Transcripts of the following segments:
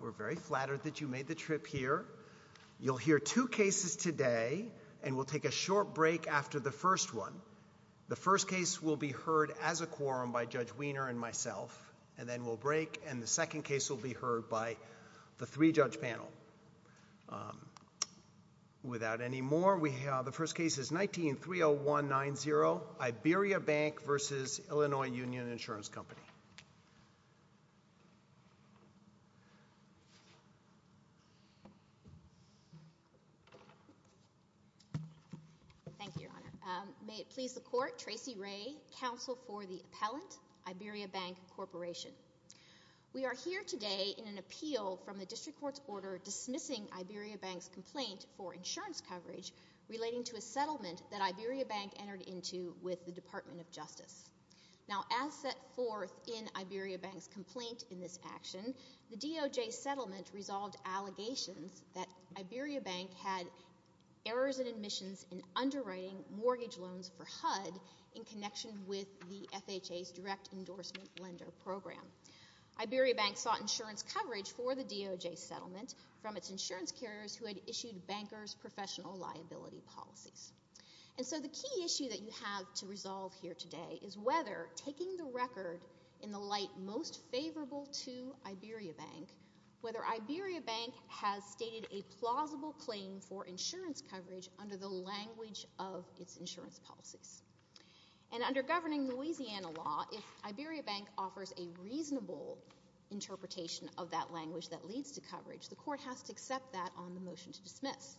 We're very flattered that you made the trip here. You'll hear two cases today and we'll take a short break after the first one. The first case will be heard as a quorum by Judge Wiener and myself and then we'll break and the second case will be heard by the three-judge panel. Without any more we have the first case is 19-30190 IberiaBank v. Illinois Union Insurance Company. Thank you, Your Honor. May it please the court, Tracy Ray, counsel for the appellant, IberiaBank Corporation. We are here today in an appeal from the district court's order dismissing IberiaBank's complaint for insurance coverage relating to a settlement that IberiaBank entered into with the Department of Justice. Now as set forth in IberiaBank's complaint in this action, the DOJ settlement resolved allegations that IberiaBank had errors in admissions in underwriting mortgage loans for HUD in connection with the FHA's direct endorsement lender program. IberiaBank sought insurance coverage for the DOJ settlement from its insurance carriers who had issued bankers' professional liability policies. And so the key issue that you have to resolve here today is whether taking the record in the light most favorable to IberiaBank, whether IberiaBank has stated a plausible claim for insurance coverage under the language of its insurance policies. And under governing Louisiana law, if IberiaBank offers a reasonable interpretation of that language that leads to coverage, the court has to accept that on the motion to dismiss.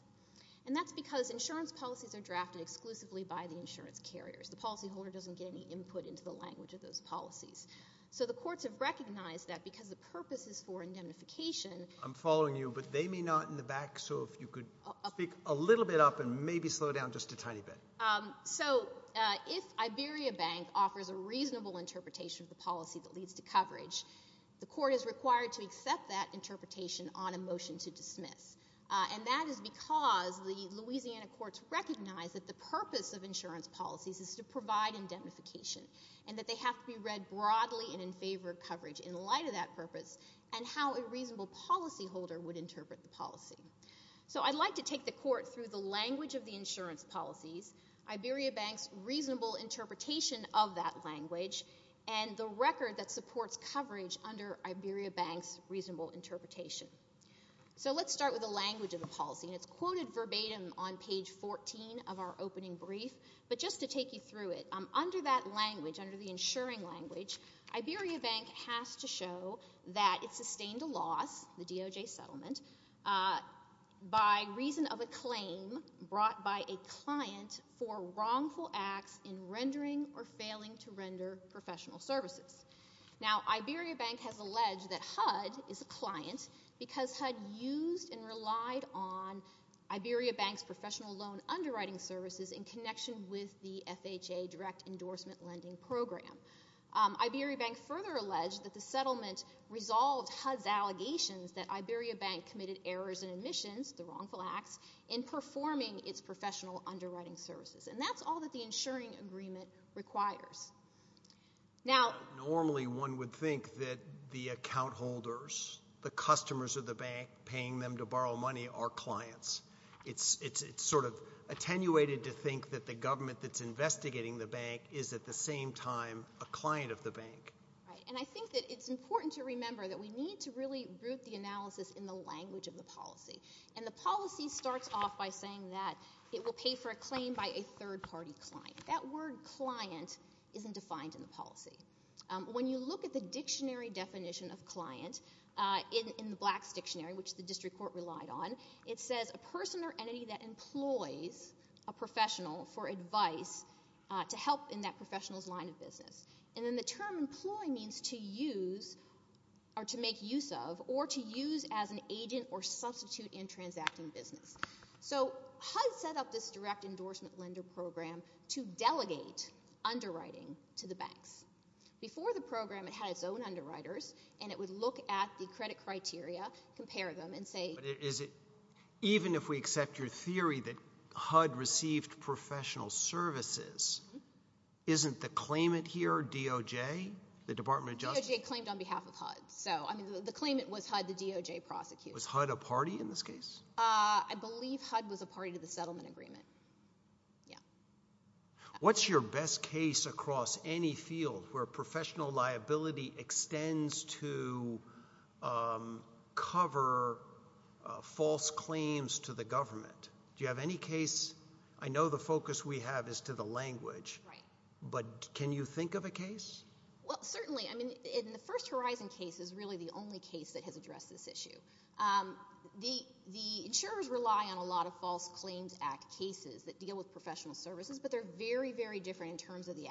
And that's because insurance policies are drafted exclusively by the insurance carriers. The policyholder doesn't get any input into the language of those policies. So the courts have recognized that because the purpose is for indemnification. I'm following you, but they may not in the back, so if you could speak a little bit up and maybe slow down just a tiny bit. So if IberiaBank offers a reasonable interpretation of the policy that leads to coverage, the court is required to accept that interpretation on a motion to dismiss. And that is because the Louisiana courts recognize that the purpose of insurance policies is to provide indemnification and that they have to be read broadly and in favor of coverage in light of that purpose and how a reasonable policyholder would interpret the policy. So I'd like to take the court through the language of the insurance policies, IberiaBank's reasonable interpretation of that language, and the record that supports coverage under IberiaBank's reasonable interpretation. So let's start with the language of the policy, and it's quoted verbatim on page 14 of our opening brief. But just to take you through it, under that language, under the insuring language, IberiaBank has to show that it sustained a loss, the DOJ settlement, by reason of a claim brought by a client for wrongful acts in rendering or failing to render professional services. Now, IberiaBank has alleged that HUD is a client because HUD used and relied on IberiaBank's professional loan underwriting services in connection with the FHA direct endorsement lending program. IberiaBank further alleged that the settlement resolved HUD's allegations that underwriting services. And that's all that the insuring agreement requires. Now, normally one would think that the account holders, the customers of the bank paying them to borrow money, are clients. It's sort of attenuated to think that the government that's investigating the bank is at the same time a client of the bank. Right. And I think that it's important to remember that we need to really root the analysis in the language of the policy. And the policy starts off by saying that it will pay for a claim by a third-party client. That word client isn't defined in the policy. When you look at the dictionary definition of client in the Black's Dictionary, which the district court relied on, it says a person or entity that employs a professional for advice to help in that professional's line of business. And then term employ means to use or to make use of or to use as an agent or substitute in transacting business. So HUD set up this direct endorsement lender program to delegate underwriting to the banks. Before the program, it had its own underwriters, and it would look at the credit criteria, compare them, and say- But is it, even if we accept your theory that HUD received professional services, isn't the claimant here DOJ, the Department of Justice? DOJ claimed on behalf of HUD. So, I mean, the claimant was HUD, the DOJ prosecutor. Was HUD a party in this case? I believe HUD was a party to the settlement agreement. Yeah. What's your best case across any field where professional liability extends to cover false claims to the government? Do you have any case? I know the focus we have is to the language. Right. But can you think of a case? Well, certainly. I mean, in the First Horizon case is really the only case that has addressed this issue. The insurers rely on a lot of False Claims Act cases that deal with professional services, but they're very, very different in terms of the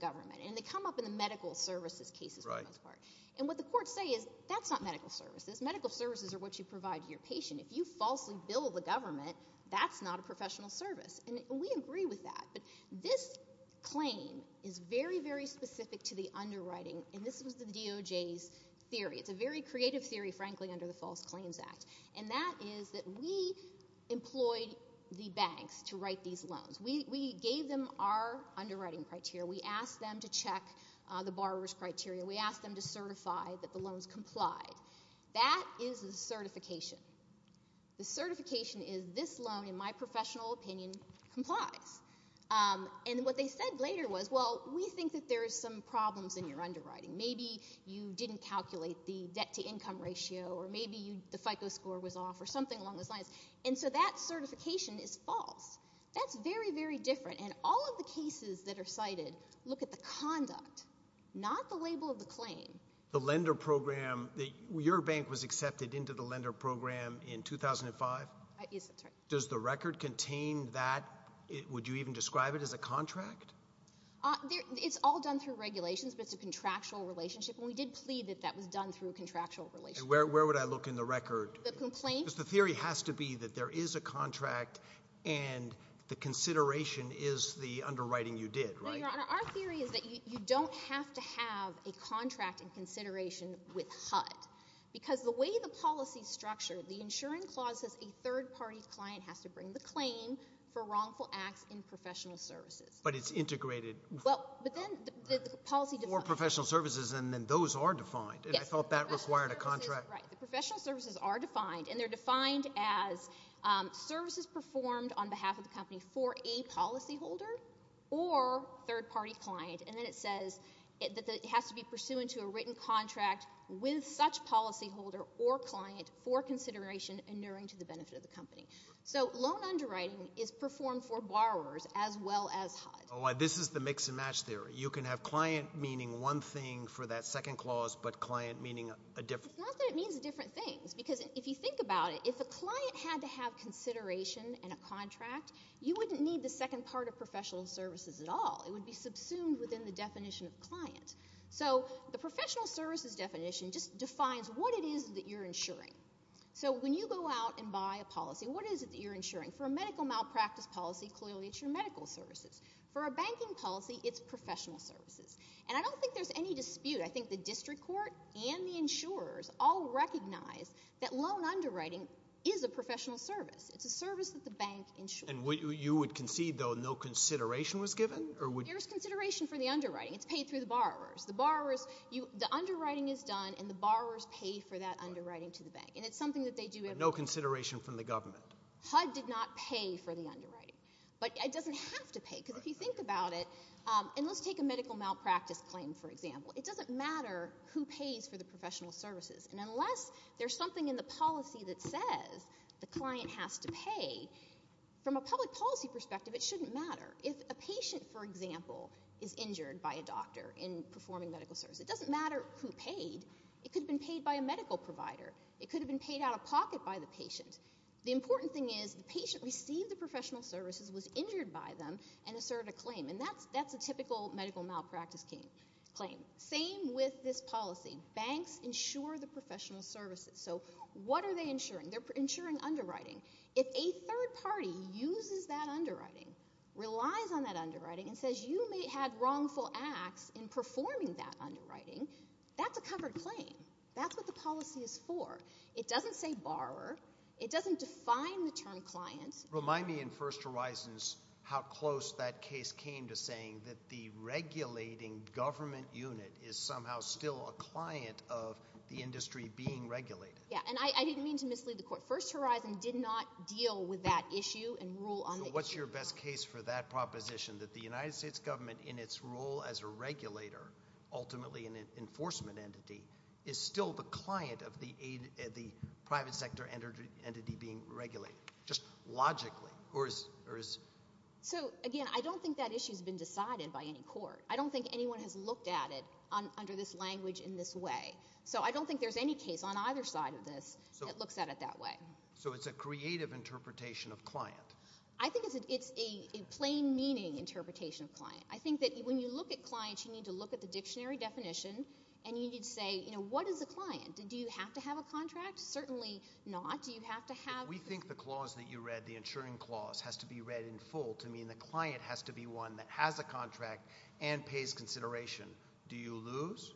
government. And they come up in the medical services cases for the most part. And what the courts say is, that's not medical services. Medical services are what you provide to your patient. If you falsely bill the government, that's not a professional service. And we agree with that. But this claim is very, very specific to the underwriting. And this was the DOJ's theory. It's a very creative theory, frankly, under the False Claims Act. And that is that we employed the banks to write these loans. We gave them our underwriting criteria. We asked them to check the borrower's criteria. We asked them to certify that the loans complied. That is the certification. The certification is, this loan, in my professional opinion, complies. And what they said later was, well, we think that there are some problems in your underwriting. Maybe you didn't calculate the debt to income ratio, or maybe the FICO score was off, or something along those lines. That certification is false. That's very, very different. And all of the cases that are cited look at the conduct, not the label of the claim. The lender program, your bank was accepted into the lender program in 2005? Yes, that's right. Does the record contain that? Would you even describe it as a contract? It's all done through regulations, but it's a contractual relationship. And we did plead that that was done through a contractual relationship. And where would I look in the record? The complaint? Because the theory has to be that there is a contract, and the consideration is the underwriting you did, right? No, Your Honor. Our theory is that you don't have to have a contract in consideration with HUD. Because the way the policy is structured, the insuring clause says a third-party client has to bring the claim for wrongful acts in professional services. But it's integrated? Well, but then the policy defines it. Or professional services, and then those are defined. Yes. And I thought that required a contract. Right. The professional services are defined, and they're defined as services performed on behalf of the company for a policyholder or third-party client. And then it says that it has to be pursuant to a written contract with such policyholder or client for consideration inuring to the benefit of the company. So loan underwriting is performed for borrowers as well as HUD. Oh, this is the mix for that second clause, but client meaning a different? It's not that it means different things. Because if you think about it, if a client had to have consideration in a contract, you wouldn't need the second part of professional services at all. It would be subsumed within the definition of client. So the professional services definition just defines what it is that you're insuring. So when you go out and buy a policy, what is it that you're insuring? For a medical malpractice policy, clearly it's your medical services. For a banking policy, it's professional services. And I don't think there's any dispute. I think the district court and the insurers all recognize that loan underwriting is a professional service. It's a service that the bank insures. And you would concede, though, no consideration was given? There's consideration for the underwriting. It's paid through the borrowers. The borrowers, the underwriting is done, and the borrowers pay for that underwriting to the bank. And it's something that they do every day. But no consideration from the government? HUD did not pay for the underwriting. But it doesn't have to pay, because if you think about it, and let's take a medical malpractice claim, for example. It doesn't matter who pays for the professional services. And unless there's something in the policy that says the client has to pay, from a public policy perspective, it shouldn't matter. If a patient, for example, is injured by a doctor in performing medical service, it doesn't matter who paid. It could have been paid by a medical provider. It could have been paid out of pocket by the patient. The important thing is the patient received the professional services, was injured by them, and asserted a claim. And that's a typical medical malpractice claim. Same with this policy. Banks insure the professional services. So what are they insuring? They're insuring underwriting. If a third party uses that underwriting, relies on that underwriting, and says you may have wrongful acts in performing that underwriting, that's a covered claim. That's what the policy is for. It doesn't say borrower. It doesn't define the term client. Remind me in First Horizons how close that case came to saying that the regulating government unit is somehow still a client of the industry being regulated. Yeah. And I didn't mean to mislead the court. First Horizon did not deal with that issue and rule on the issue. So what's your best case for that proposition? That the United States government, in its role as a regulator, ultimately an enforcement entity, is still the client of the private sector entity being regulated, just logically? So again, I don't think that issue's been decided by any court. I don't think anyone has looked at it under this language in this way. So I don't think there's any case on either side of this that looks at it that way. So it's a creative interpretation of client? I think it's a plain meaning interpretation of client. I think that when you look at clients, you need to look at the dictionary definition, and you need to say, what is a client? Do you have to have a contract? Certainly not. Do you have to have... We think the clause that you read, the insuring clause, has to be read in full to mean the client has to be one that has a contract and pays consideration. Do you lose?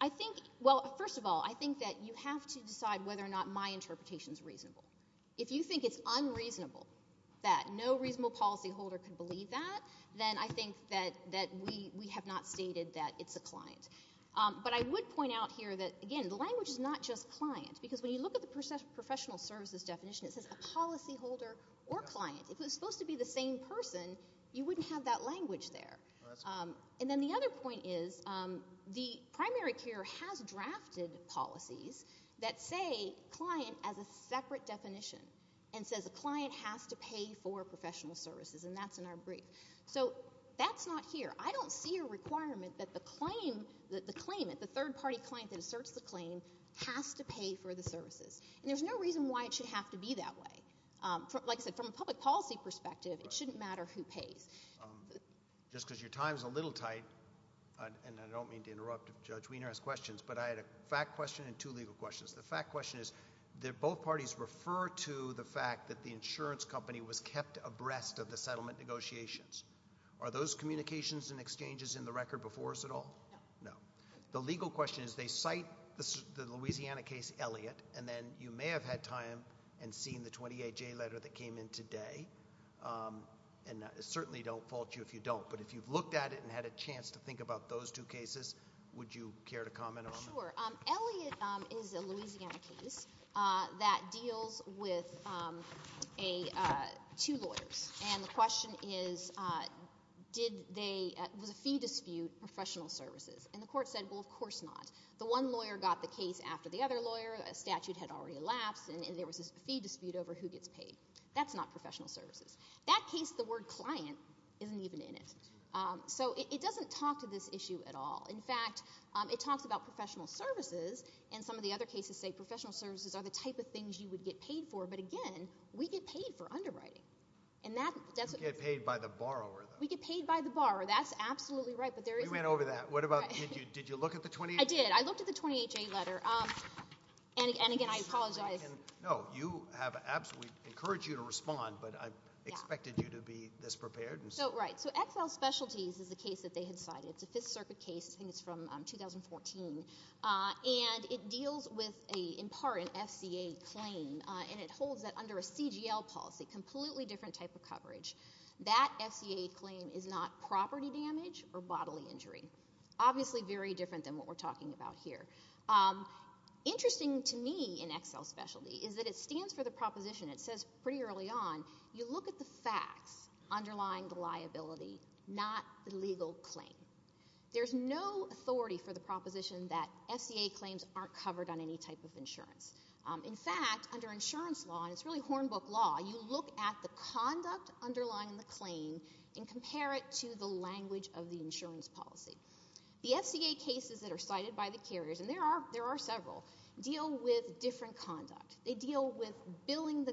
I think, well, first of all, I think that you have to decide whether or not my interpretation's reasonable. If you think it's unreasonable that no reasonable policyholder could believe that, then I think that we have not stated that it's a client. But I would point out here that, again, the language is not just client, because when you look at the professional services definition, it says a policyholder or client. If it was supposed to be the same person, you wouldn't have that language there. And then the other point is the primary care has drafted policies that say client as a separate definition and says a client has to pay for professional services, and that's in our brief. So that's not here. I don't see a requirement that the claim, the claimant, the third-party client that asserts the claim has to pay for the services. And there's no reason why it should have to be that way. Like I said, from a public policy perspective, it shouldn't matter who pays. Just because your time's a little tight, and I don't mean to interrupt if Judge Wiener has questions, but I had a fact question and two legal questions. The fact question is that both parties refer to the fact that the insurance company was kept abreast of the settlement negotiations. Are those communications and the legal question is they cite the Louisiana case Elliot, and then you may have had time and seen the 28-J letter that came in today. And certainly don't fault you if you don't, but if you've looked at it and had a chance to think about those two cases, would you care to comment on that? Sure. Elliot is a Louisiana case that deals with two lawyers. And the question is, was a fee dispute professional services? And the court said, well, of course not. The one lawyer got the case after the other lawyer. A statute had already elapsed, and there was this fee dispute over who gets paid. That's not professional services. That case, the word client isn't even in it. So it doesn't talk to this issue at all. In fact, it talks about professional services, and some of the other cases say professional services are the type of things you would get paid for. But again, we get paid for underwriting. You get paid by the borrower. We get paid by the borrower. That's absolutely right. You went over that. Did you look at the 28-J? I did. I looked at the 28-J letter. And again, I apologize. No, we encourage you to respond, but I expected you to be this prepared. So right. So XL Specialties is the case that they had cited. It's a Fifth Circuit case. I think it's from 2014. And it deals with, in part, an FCA claim. And it holds that under a CGL policy, completely different type of coverage, that FCA claim is not property damage or bodily injury. Obviously very different than what we're talking about here. Interesting to me in XL Specialty is that it stands for the proposition. It says pretty early on, you look at the facts underlying the liability, not the legal claim. There's no authority for the proposition that FCA claims aren't covered on any type of insurance. In fact, under insurance law, and it's really Hornbook law, you look at the conduct underlying the claim and compare it to the language of the insurance policy. The FCA cases that are cited by the carriers, and there are several, deal with different conduct. They deal with billing the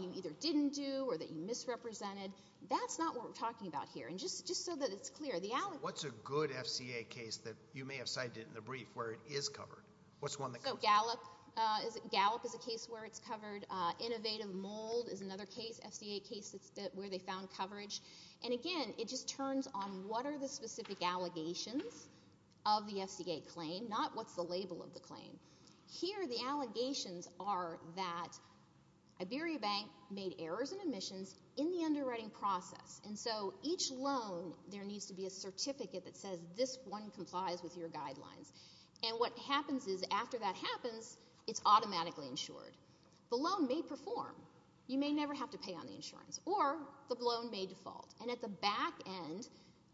you either didn't do or that you misrepresented. That's not what we're talking about here. And just so that it's clear, the allegation- What's a good FCA case that you may have cited in the brief where it is covered? So Gallup is a case where it's covered. Innovative Mold is another FCA case where they found coverage. And again, it just turns on what are the specific allegations of the FCA claim, not what's the label of the claim. Here, the allegations are that Iberia Bank made errors and omissions in the underwriting process. And so each loan, there needs to be a certificate that says this one complies with your guidelines. And what happens is after that happens, it's automatically insured. The loan may perform. You may never have to pay on the insurance, or the loan may default. And at the back end,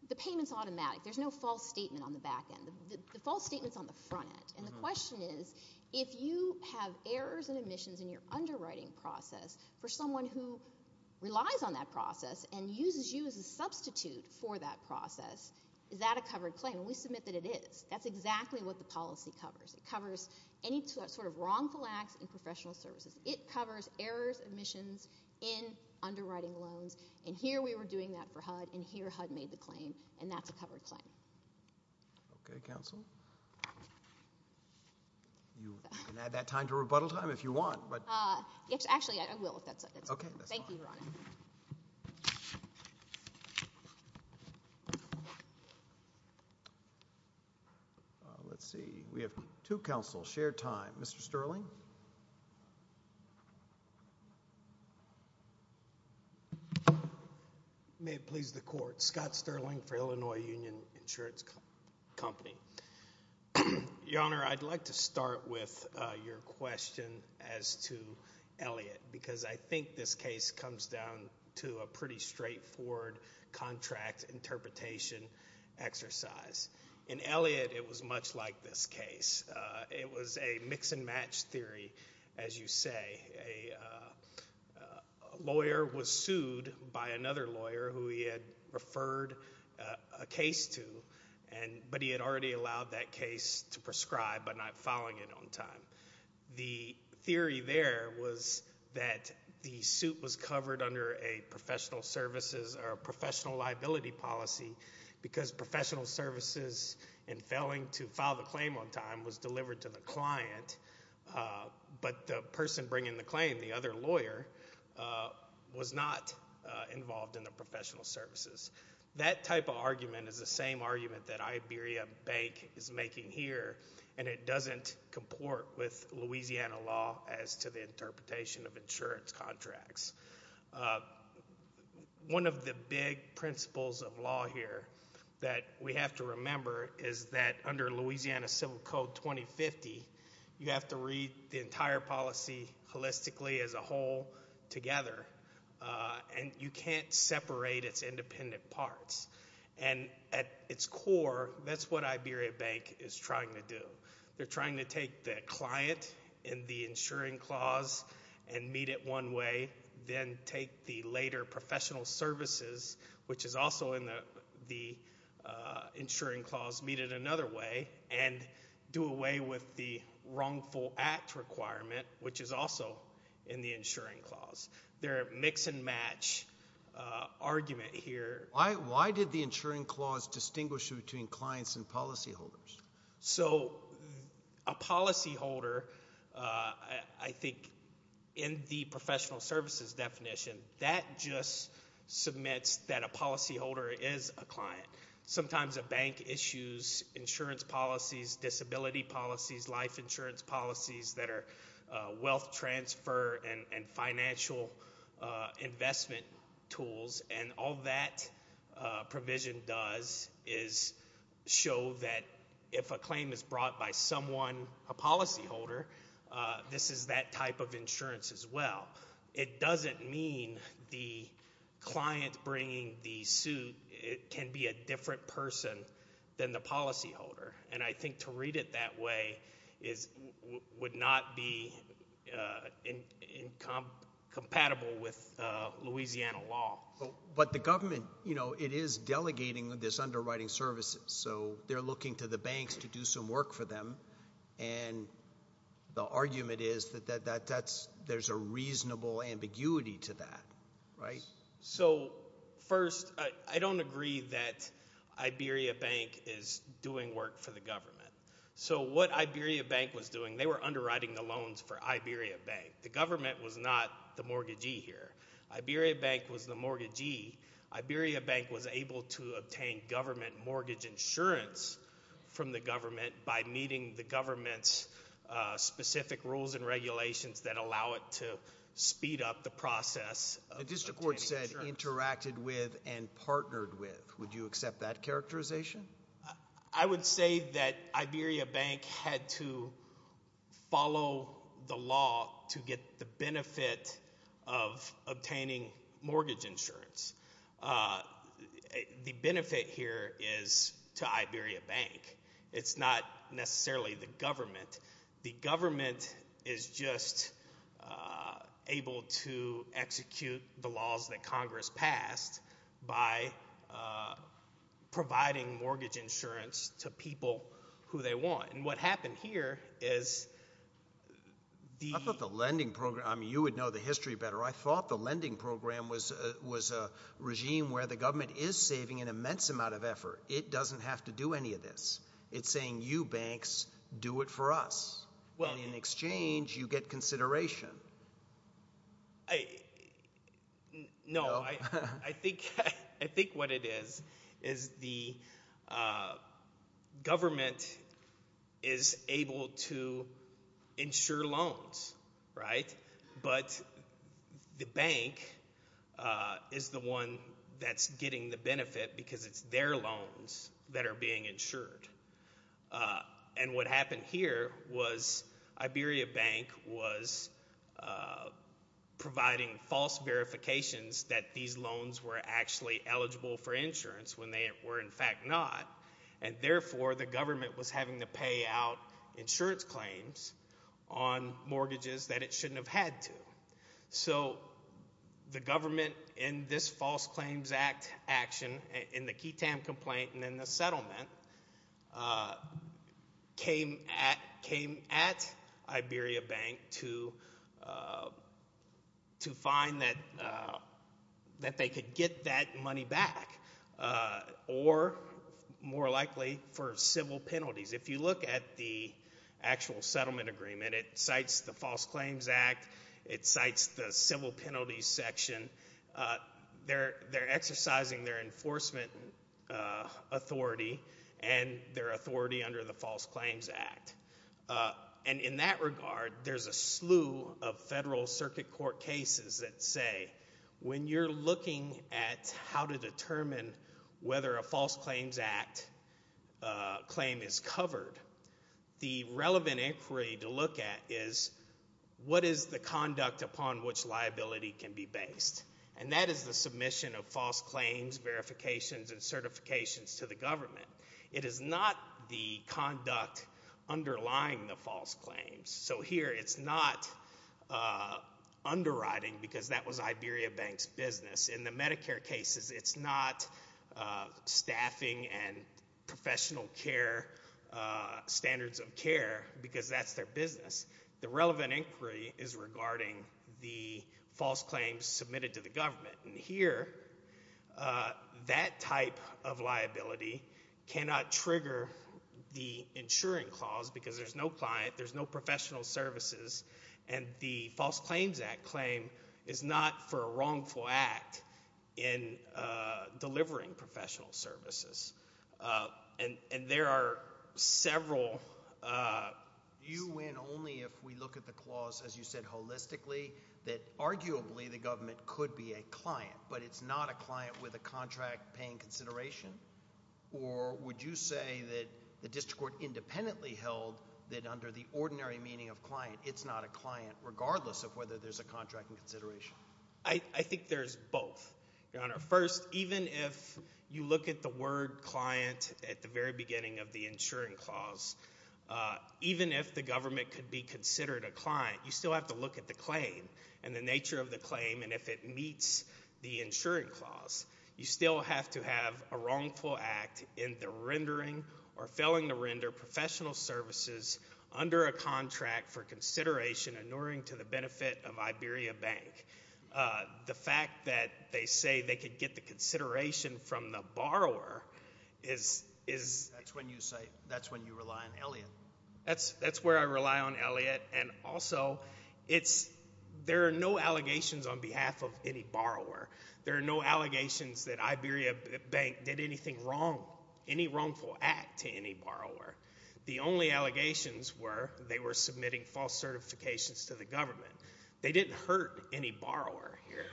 the payment's automatic. There's no false statement on the back end. The false statement's on the front end. And the question is, if you have errors and omissions in your underwriting process, for someone who relies on that process and uses you as a substitute for that process, is that a covered claim? And we submit that it is. That's exactly what the policy covers. It covers any sort of wrongful acts in professional services. It covers errors, omissions in underwriting loans. And here we were doing that for HUD, and here HUD made the claim, and that's a covered claim. Okay, Counsel. You can add that time to rebuttal time if you want, but— Yes, actually, I will, if that's okay. Thank you, Your Honor. Let's see. We have two counsels. Shared time. Mr. Sterling. May it please the Court. Scott Sterling for Illinois Union Insurance Company. Your Honor, I'd like to start with your question as to Elliott, because I think this case comes down to a pretty straightforward contract interpretation exercise. In Elliott, it was much like this case. It was a mix-and-match theory, as you say. A lawyer was sued by another lawyer who he had referred a case to, but he had already allowed that case to prescribe by not filing it on time. The theory there was that the suit was covered under a professional services or professional services, and failing to file the claim on time was delivered to the client, but the person bringing the claim, the other lawyer, was not involved in the professional services. That type of argument is the same argument that Iberia Bank is making here, and it doesn't comport with Louisiana law as to the interpretation of insurance contracts. One of the big principles of law here that we have to remember is that under Louisiana Civil Code 2050, you have to read the entire policy holistically as a whole together, and you can't separate its independent parts. At its core, that's what Iberia Bank is trying to do. They're trying to take the client in the insuring clause and meet it one way, then take the later professional services, which is also in the insuring clause, meet it another way, and do away with the wrongful act requirement, which is also in the insuring clause. They're a mix-and-match argument here. Why did the insuring clause distinguish between clients and policyholders? A policyholder, I think, in the professional services definition, that just submits that a policyholder is a client. Sometimes a bank issues insurance policies, disability policies, life insurance policies that are wealth transfer and show that if a claim is brought by someone, a policyholder, this is that type of insurance as well. It doesn't mean the client bringing the suit can be a different person than the policyholder, and I think to read it that way would not be compatible with Louisiana law. But the government, you know, it is delegating this underwriting services, so they're looking to the banks to do some work for them, and the argument is that there's a reasonable ambiguity to that, right? So first, I don't agree that Iberia Bank is doing work for the government. So what Iberia Bank was doing, they were underwriting the loans for Iberia Bank. The bank was the mortgagee. Iberia Bank was able to obtain government mortgage insurance from the government by meeting the government's specific rules and regulations that allow it to speed up the process. The district court said interacted with and partnered with. Would you accept that characterization? I would say that Iberia Bank had to follow the law to get the mortgage insurance. The benefit here is to Iberia Bank. It's not necessarily the government. The government is just able to execute the laws that Congress passed by providing mortgage insurance to people who they want, and what happened here is the... I thought the lending program was a regime where the government is saving an immense amount of effort. It doesn't have to do any of this. It's saying, you banks, do it for us, and in exchange, you get consideration. No, I think what it is is the government is able to insure loans, right? But the bank is the one that's getting the benefit because it's their loans that are being insured, and what happened here was Iberia Bank was providing false verifications that these loans were actually eligible for insurance when they were in fact not, and therefore, the government was having to pay out insurance claims on mortgages that it shouldn't have had to. So the government, in this False Claims Act action, in the Ketam complaint and in the settlement, came at Iberia Bank to find that they could get that money back, or more likely for civil penalties. If you look at the actual settlement agreement, it cites the False Claims Act. It cites the civil penalties section. They're exercising their enforcement authority and their authority under the False Claims Act, and in that regard, there's a slew of federal circuit court cases that say when you're looking at how to determine whether a False Claims Act claim is covered, the relevant inquiry to look at is what is the conduct upon which liability can be based, and that is the submission of false claims, verifications, and certifications to the government. It is not the conduct underlying the false claims. So here, it's not underwriting because that was Iberia Bank's business. In the Medicare cases, it's not staffing and professional care standards of care because that's their business. The relevant inquiry is regarding the false claims submitted to the government, and here, that type of liability cannot trigger the insuring clause because there's no client, there's no professional services, and the False Claims Act claim is not for a wrongful act in delivering professional services, and there are several. Do you win only if we look at the clause, as you said, holistically, that arguably the government could be a client, but it's not a client with a contract paying consideration, or would you say that the district court independently held that under the ordinary meaning of client, it's not a client regardless of whether there's a contract in consideration? I think there's both, Your Honor. First, even if you look at the word client at the very beginning of the insuring clause, even if the government could be considered a client, you still have to look at the claim and the nature of the claim, and if it meets the insuring clause, you still have to have a wrongful act in the rendering or failing to render professional services under a contract for consideration, inuring to the benefit of Iberia Bank. The fact that they say they could get the consideration from the borrower is... That's when you say, that's when you rely on Elliott. That's where I rely on Elliott, and also, there are no allegations on behalf of any borrower. There are no allegations that Iberia Bank did anything wrong, any wrongful act to any borrower. The only allegations were they were submitting false certifications to the government. They didn't hurt any borrower here,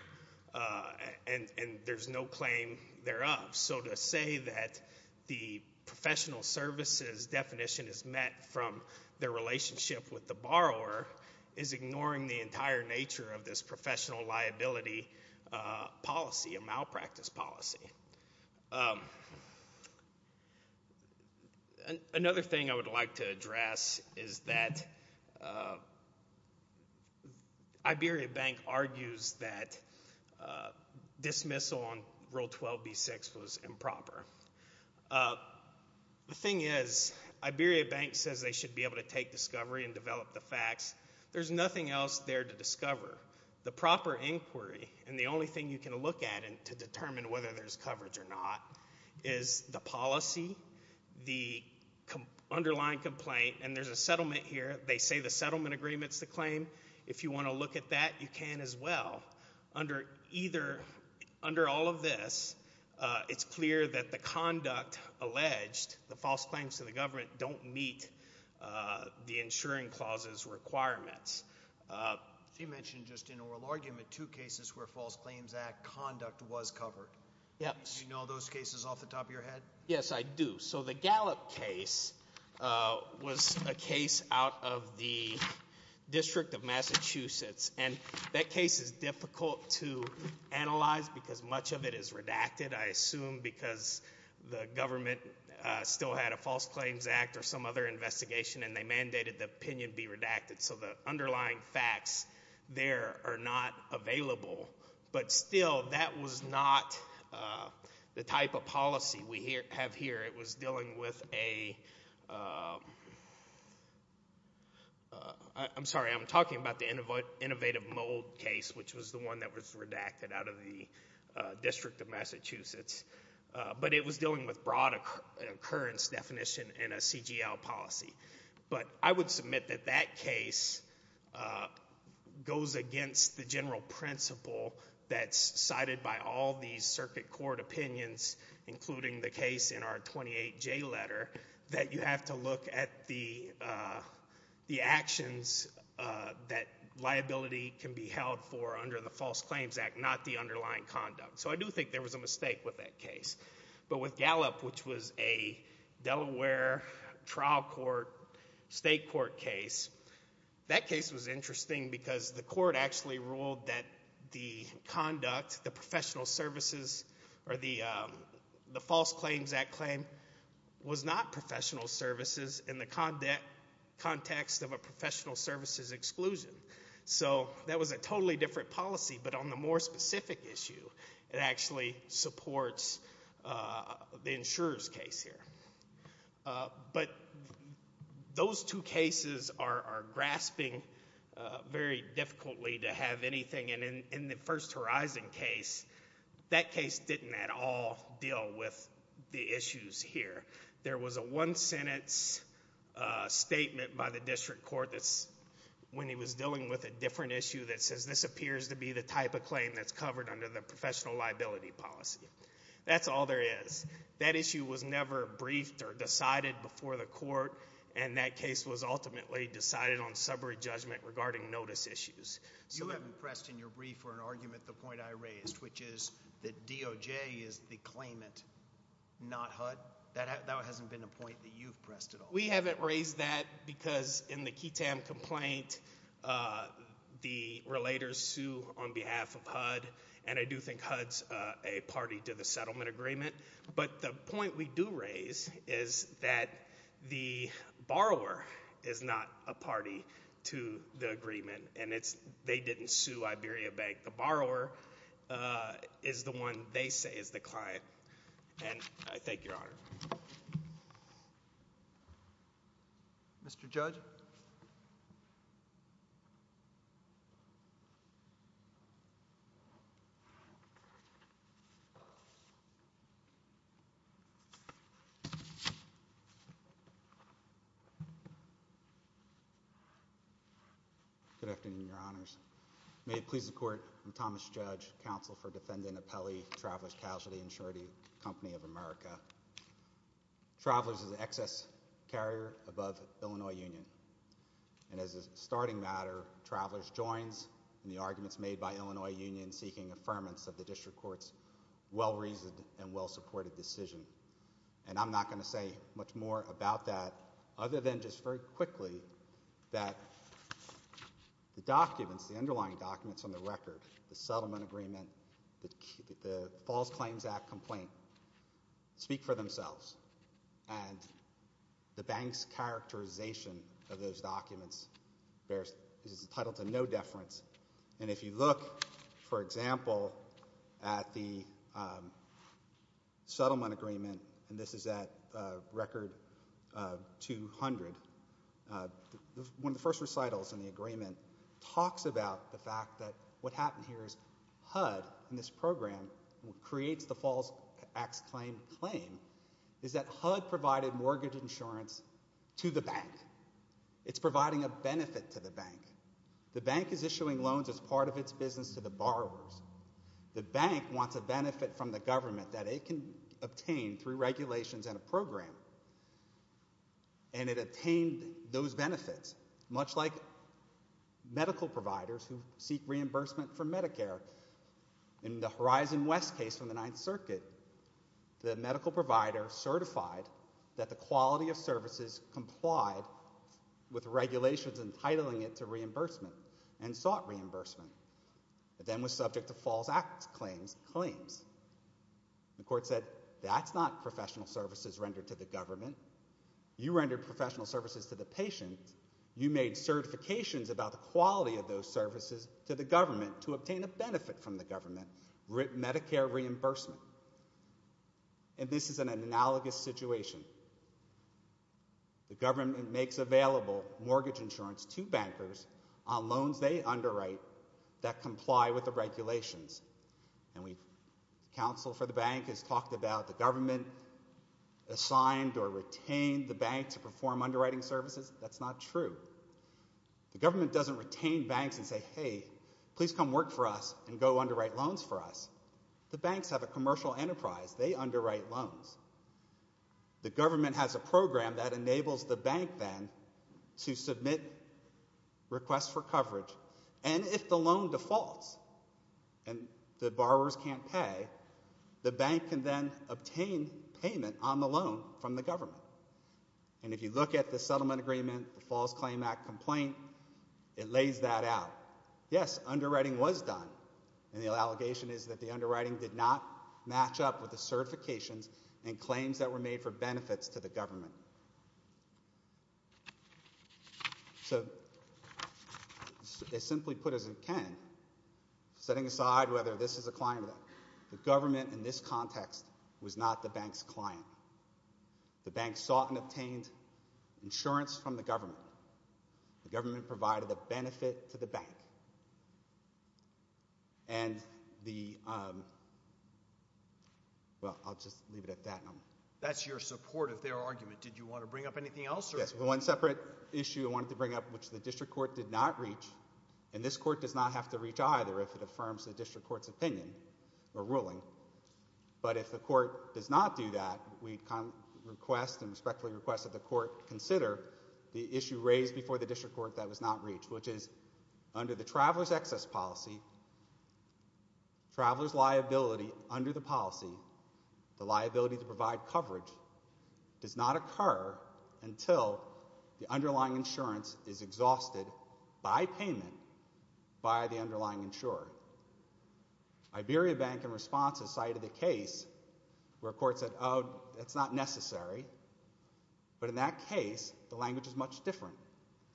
and there's no claim thereof, so to say that the professional services definition is met from their relationship with the borrower is ignoring the entire nature of this professional liability policy, a malpractice policy. Another thing I would like to address is that Iberia Bank argues that dismissal on Rule 12b-6 was improper. The thing is, Iberia Bank says they should be able to take discovery and develop the facts. The proper inquiry, and the only thing you can look at to determine whether there's coverage or not, is the policy, the underlying complaint, and there's a settlement here. They say the settlement agreement's the claim. If you want to look at that, you can as well. Under all of this, it's clear that the conduct alleged, the false claims to the government, don't meet the insuring clauses requirements. You mentioned just in oral argument two cases where false claims act conduct was covered. Yes. Do you know those cases off the top of your head? Yes, I do. So the Gallup case was a case out of the district of Massachusetts, and that case is difficult to analyze because much of it is redacted, I assume because the government still had a false claims act or some other investigation, and they mandated the opinion be redacted. So the underlying facts there are not available. But still, that was not the type of policy we have here. It was dealing with a, I'm sorry, I'm talking about the Innovative Mold case, which was the one that was redacted out of the district of Massachusetts. But it was dealing with broad occurrence definition and a CGL policy. But I would submit that that case goes against the general principle that's cited by all these circuit court opinions, including the case in our 28J letter, that you have to look at the actions that liability can be held for under the False Claims Act, not the underlying conduct. So I do think there was a mistake with that case. But with Gallup, which was a Delaware trial court, state court case, that case was interesting because the court actually ruled that the conduct, the professional services, or the False Claims Act claim was not professional services in the context of a professional services exclusion. So that was a totally different policy. But on the more specific issue, it actually supports the insurer's case here. But those two cases are grasping very difficultly to have anything. And in the First Horizon case, that case didn't at all deal with the issues here. There was a one-sentence statement by the district court when he was dealing with a different issue that says this appears to be the type of claim that's covered under the professional liability policy. That's all there is. That issue was never briefed or decided before the court. And that case was ultimately decided on summary judgment regarding notice issues. You have impressed in your brief or an argument the point I raised, which is that DOJ is the claimant, not HUD. That hasn't been a point that you've pressed at all. We haven't raised that because in the QITAM complaint, the relators sue on behalf of HUD. And I do think HUD's a party to the settlement agreement. But the point we do raise is that the borrower is not a party to the agreement. And they didn't sue Iberia Bank. The borrower is the one they say is the client. And I thank Your Honor. Mr. Judge? Good afternoon, Your Honors. May it please the court, I'm Thomas Judge, counsel for defendant Apelli, Travelers Casualty Insurance Company of America. Travelers is an excess carrier above Illinois Union. And as a starting matter, Travelers joins in the arguments made by Illinois Union seeking affirmance of the district court's well-reasoned and well-supported decision. And I'm not going to say much more about that other than just very quickly that the documents, the underlying documents on the record, the settlement agreement, the False Claims Act complaint speak for themselves. And the bank's characterization of those documents is entitled to no deference. And if you look, for example, at the settlement agreement, and this is at record 200, one of the first recitals in the agreement talks about the fact that what happened here is HUD program creates the False Acts Claim claim is that HUD provided mortgage insurance to the bank. It's providing a benefit to the bank. The bank is issuing loans as part of its business to the borrowers. The bank wants a benefit from the government that it can obtain through regulations and a program. And it obtained those benefits, much like medical providers who seek reimbursement from Medicare. In the Horizon West case from the Ninth Circuit, the medical provider certified that the quality of services complied with regulations entitling it to reimbursement and sought reimbursement. It then was subject to False Acts Claims claims. The court said, that's not professional services rendered to the government. You rendered professional services to the patient. You made certifications about the quality of those services to the government to obtain a benefit from the government, Medicare reimbursement. And this is an analogous situation. The government makes available mortgage insurance to bankers on loans they underwrite that comply with the regulations. And the counsel for the bank has talked about the government assigned or retained the bank to perform underwriting services. That's not true. The government doesn't retain banks and say, hey, please come work for us and go underwrite loans for us. The banks have a commercial enterprise. They underwrite loans. The government has a program that enables the bank then to submit requests for coverage. And if the loan defaults and the borrowers can't pay, the bank can then obtain payment on the loan from the government. And if you look at the settlement agreement, the False Claim Act Complaint, it lays that out. Yes, underwriting was done. And the allegation is that the underwriting did not match up with the certifications and claims that were made for benefits to the government. So simply put as it can, setting aside whether this is a client or not, the government in this context was not the bank's client. The bank sought and obtained insurance from the government. The government provided the benefit to the bank. And the, well, I'll just leave it at that. That's your support of their argument. Did you want to bring up anything else? Yes, one separate issue I wanted to bring up, which the district court did not reach. And this court does not have to reach either if it affirms the district court's opinion or ruling. But if the court does not do that, we request and respectfully request that the court consider the issue raised before the district court that was not reached, which is under the traveler's excess policy, traveler's liability under the policy, the liability to provide coverage does not occur until the underlying insurance is exhausted by payment by the underlying insurer. Iberia Bank, in response, has cited a case where a court said, oh, that's not necessary. But in that case, the language is much different.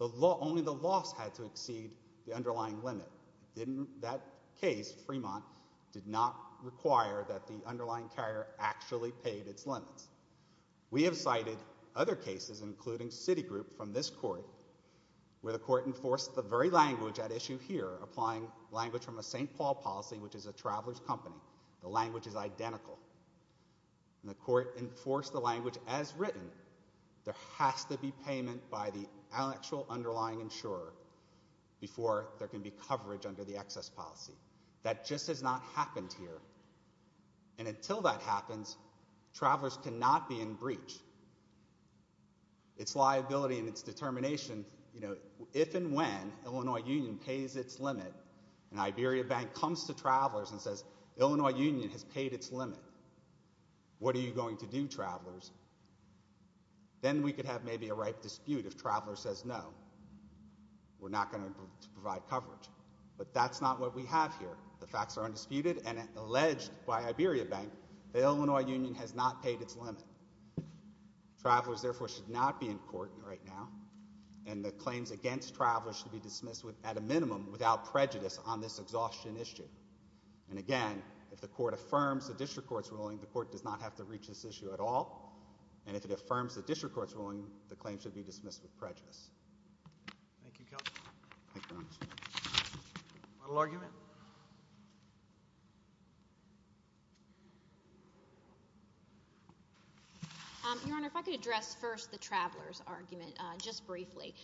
Only the loss had to exceed the underlying limit. In that case, Fremont did not require that the underlying carrier actually paid its limits. We have cited other cases, including Citigroup from this court, where the court enforced the very language at issue here, applying language from a St. Paul policy, which is a traveler's company. The language is identical. And the court enforced the language as written. There has to be payment by the actual underlying insurer before there can be coverage under the excess policy. That just has not happened here. And until that happens, travelers cannot be in breach. Its liability and its determination, you know, if and when Illinois Union pays its limit and Iberia Bank comes to travelers and says, Illinois Union has paid its limit, what are you going to do, travelers? Then we could have maybe a ripe dispute if travelers says, no, we're not going to provide coverage. But that's not what we have here. The facts are undisputed. And alleged by Iberia Bank, the Illinois Union has not paid its limit. Travelers, therefore, should not be in court right now. And the claims against travelers should be dismissed at a minimum without prejudice on this exhaustion issue. And again, if the court affirms the district court's ruling, the court does not have to reach this issue at all. And if it affirms the district court's ruling, the claim should be dismissed with prejudice. Thank you. Final argument. Your Honor, if I could address first the travelers argument just briefly.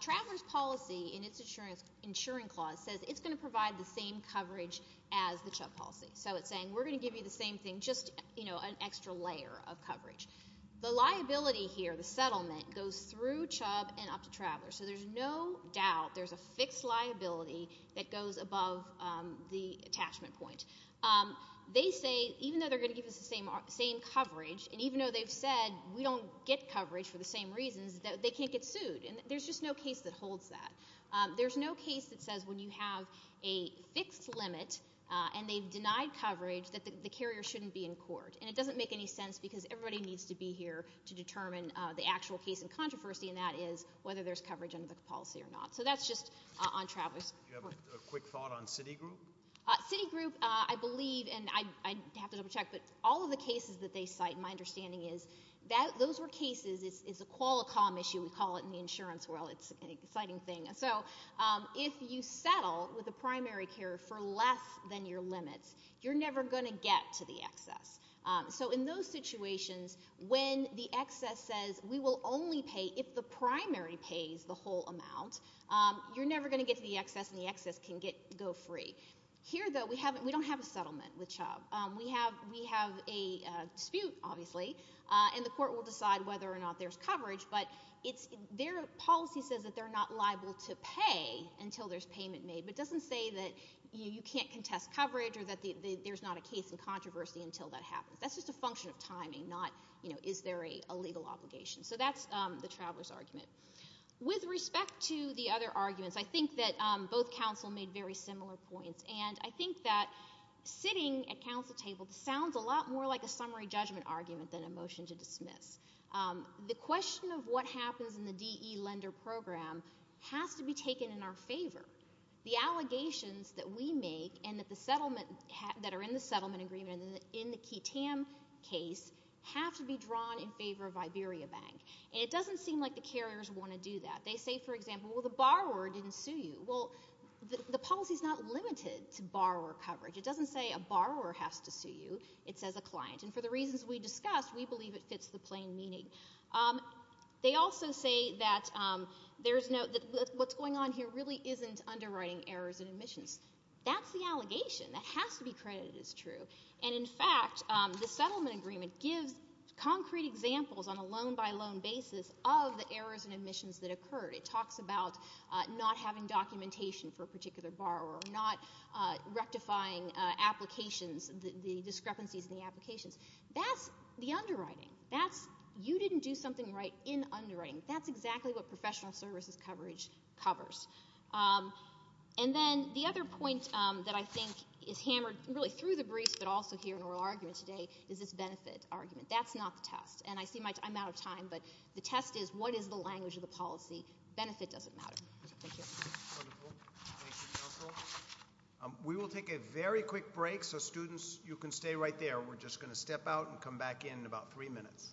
Travelers policy in its insurance clause says it's going to provide the same coverage as the CHUB policy. So it's saying we're going to give you the same thing, just, you know, an extra layer of coverage. The liability here, the settlement, goes through CHUB and up to travelers. So there's no doubt there's a fixed liability that goes above the attachment point. They say, even though they're going to give us the same coverage, and even though they've said we don't get coverage for the same reasons, they can't get sued. And there's just no case that holds that. There's no case that says when you have a fixed limit and they've denied coverage that the carrier shouldn't be in court. And it doesn't make any sense because everybody needs to be here to determine the actual case in controversy, and that is whether there's coverage under the policy or not. So that's just on travelers. Do you have a quick thought on Citigroup? Citigroup, I believe, and I'd have to double check, but all of the cases that they cite, my understanding is that those were cases, it's a Qualicom issue, we call it in the insurance world. It's an exciting thing. So if you settle with a primary carrier for less than your limits, you're never going to get to the excess. So in those situations, when the excess says, we will only pay if the primary pays the whole amount, you're never going to get to the excess, and the excess can go free. Here, though, we don't have a settlement with Chubb. We have a dispute, obviously, and the court will decide whether or not there's coverage, but their policy says that they're not liable to pay until there's payment made, but doesn't say that you can't contest coverage or that there's not a case in controversy until that happens. That's just a function of timing, not, you know, is there a legal obligation. So that's the traveler's argument. With respect to the other arguments, I think that both counsel made very similar points, and I think that sitting at counsel table sounds a lot more like a summary judgment argument than a motion to dismiss. The question of what happens in the DE lender program has to be taken in our favor. The allegations that we make and that the settlement, that are in the settlement agreement in the Kitam case have to be drawn in favor of Iberia Bank, and it doesn't seem like the carriers want to do that. They say, for example, well, the borrower didn't sue you. Well, the policy's not limited to borrower coverage. It doesn't say a borrower has to sue you. It says a client, and for the reasons we discussed, we believe it fits the plain meaning. They also say that there's no, that what's going on here really isn't underwriting errors and admissions. That's the allegation. That has to be credited as true. And in fact, the settlement agreement gives concrete examples on a loan-by-loan basis of the errors and admissions that occurred. It talks about not having documentation for a particular borrower, not rectifying applications, the discrepancies in the applications. That's the underwriting. That's you didn't do something right in underwriting. That's exactly what professional services coverage covers. And then the other point that I think is hammered really through the briefs, but also here in oral argument today, is this benefit argument. That's not the test. And I see my, I'm out of time, but the test is what is the language of the policy? Benefit doesn't matter. Thank you. We will take a very quick break. So students, you can stay right there. We're just going to step out and come back in about three minutes.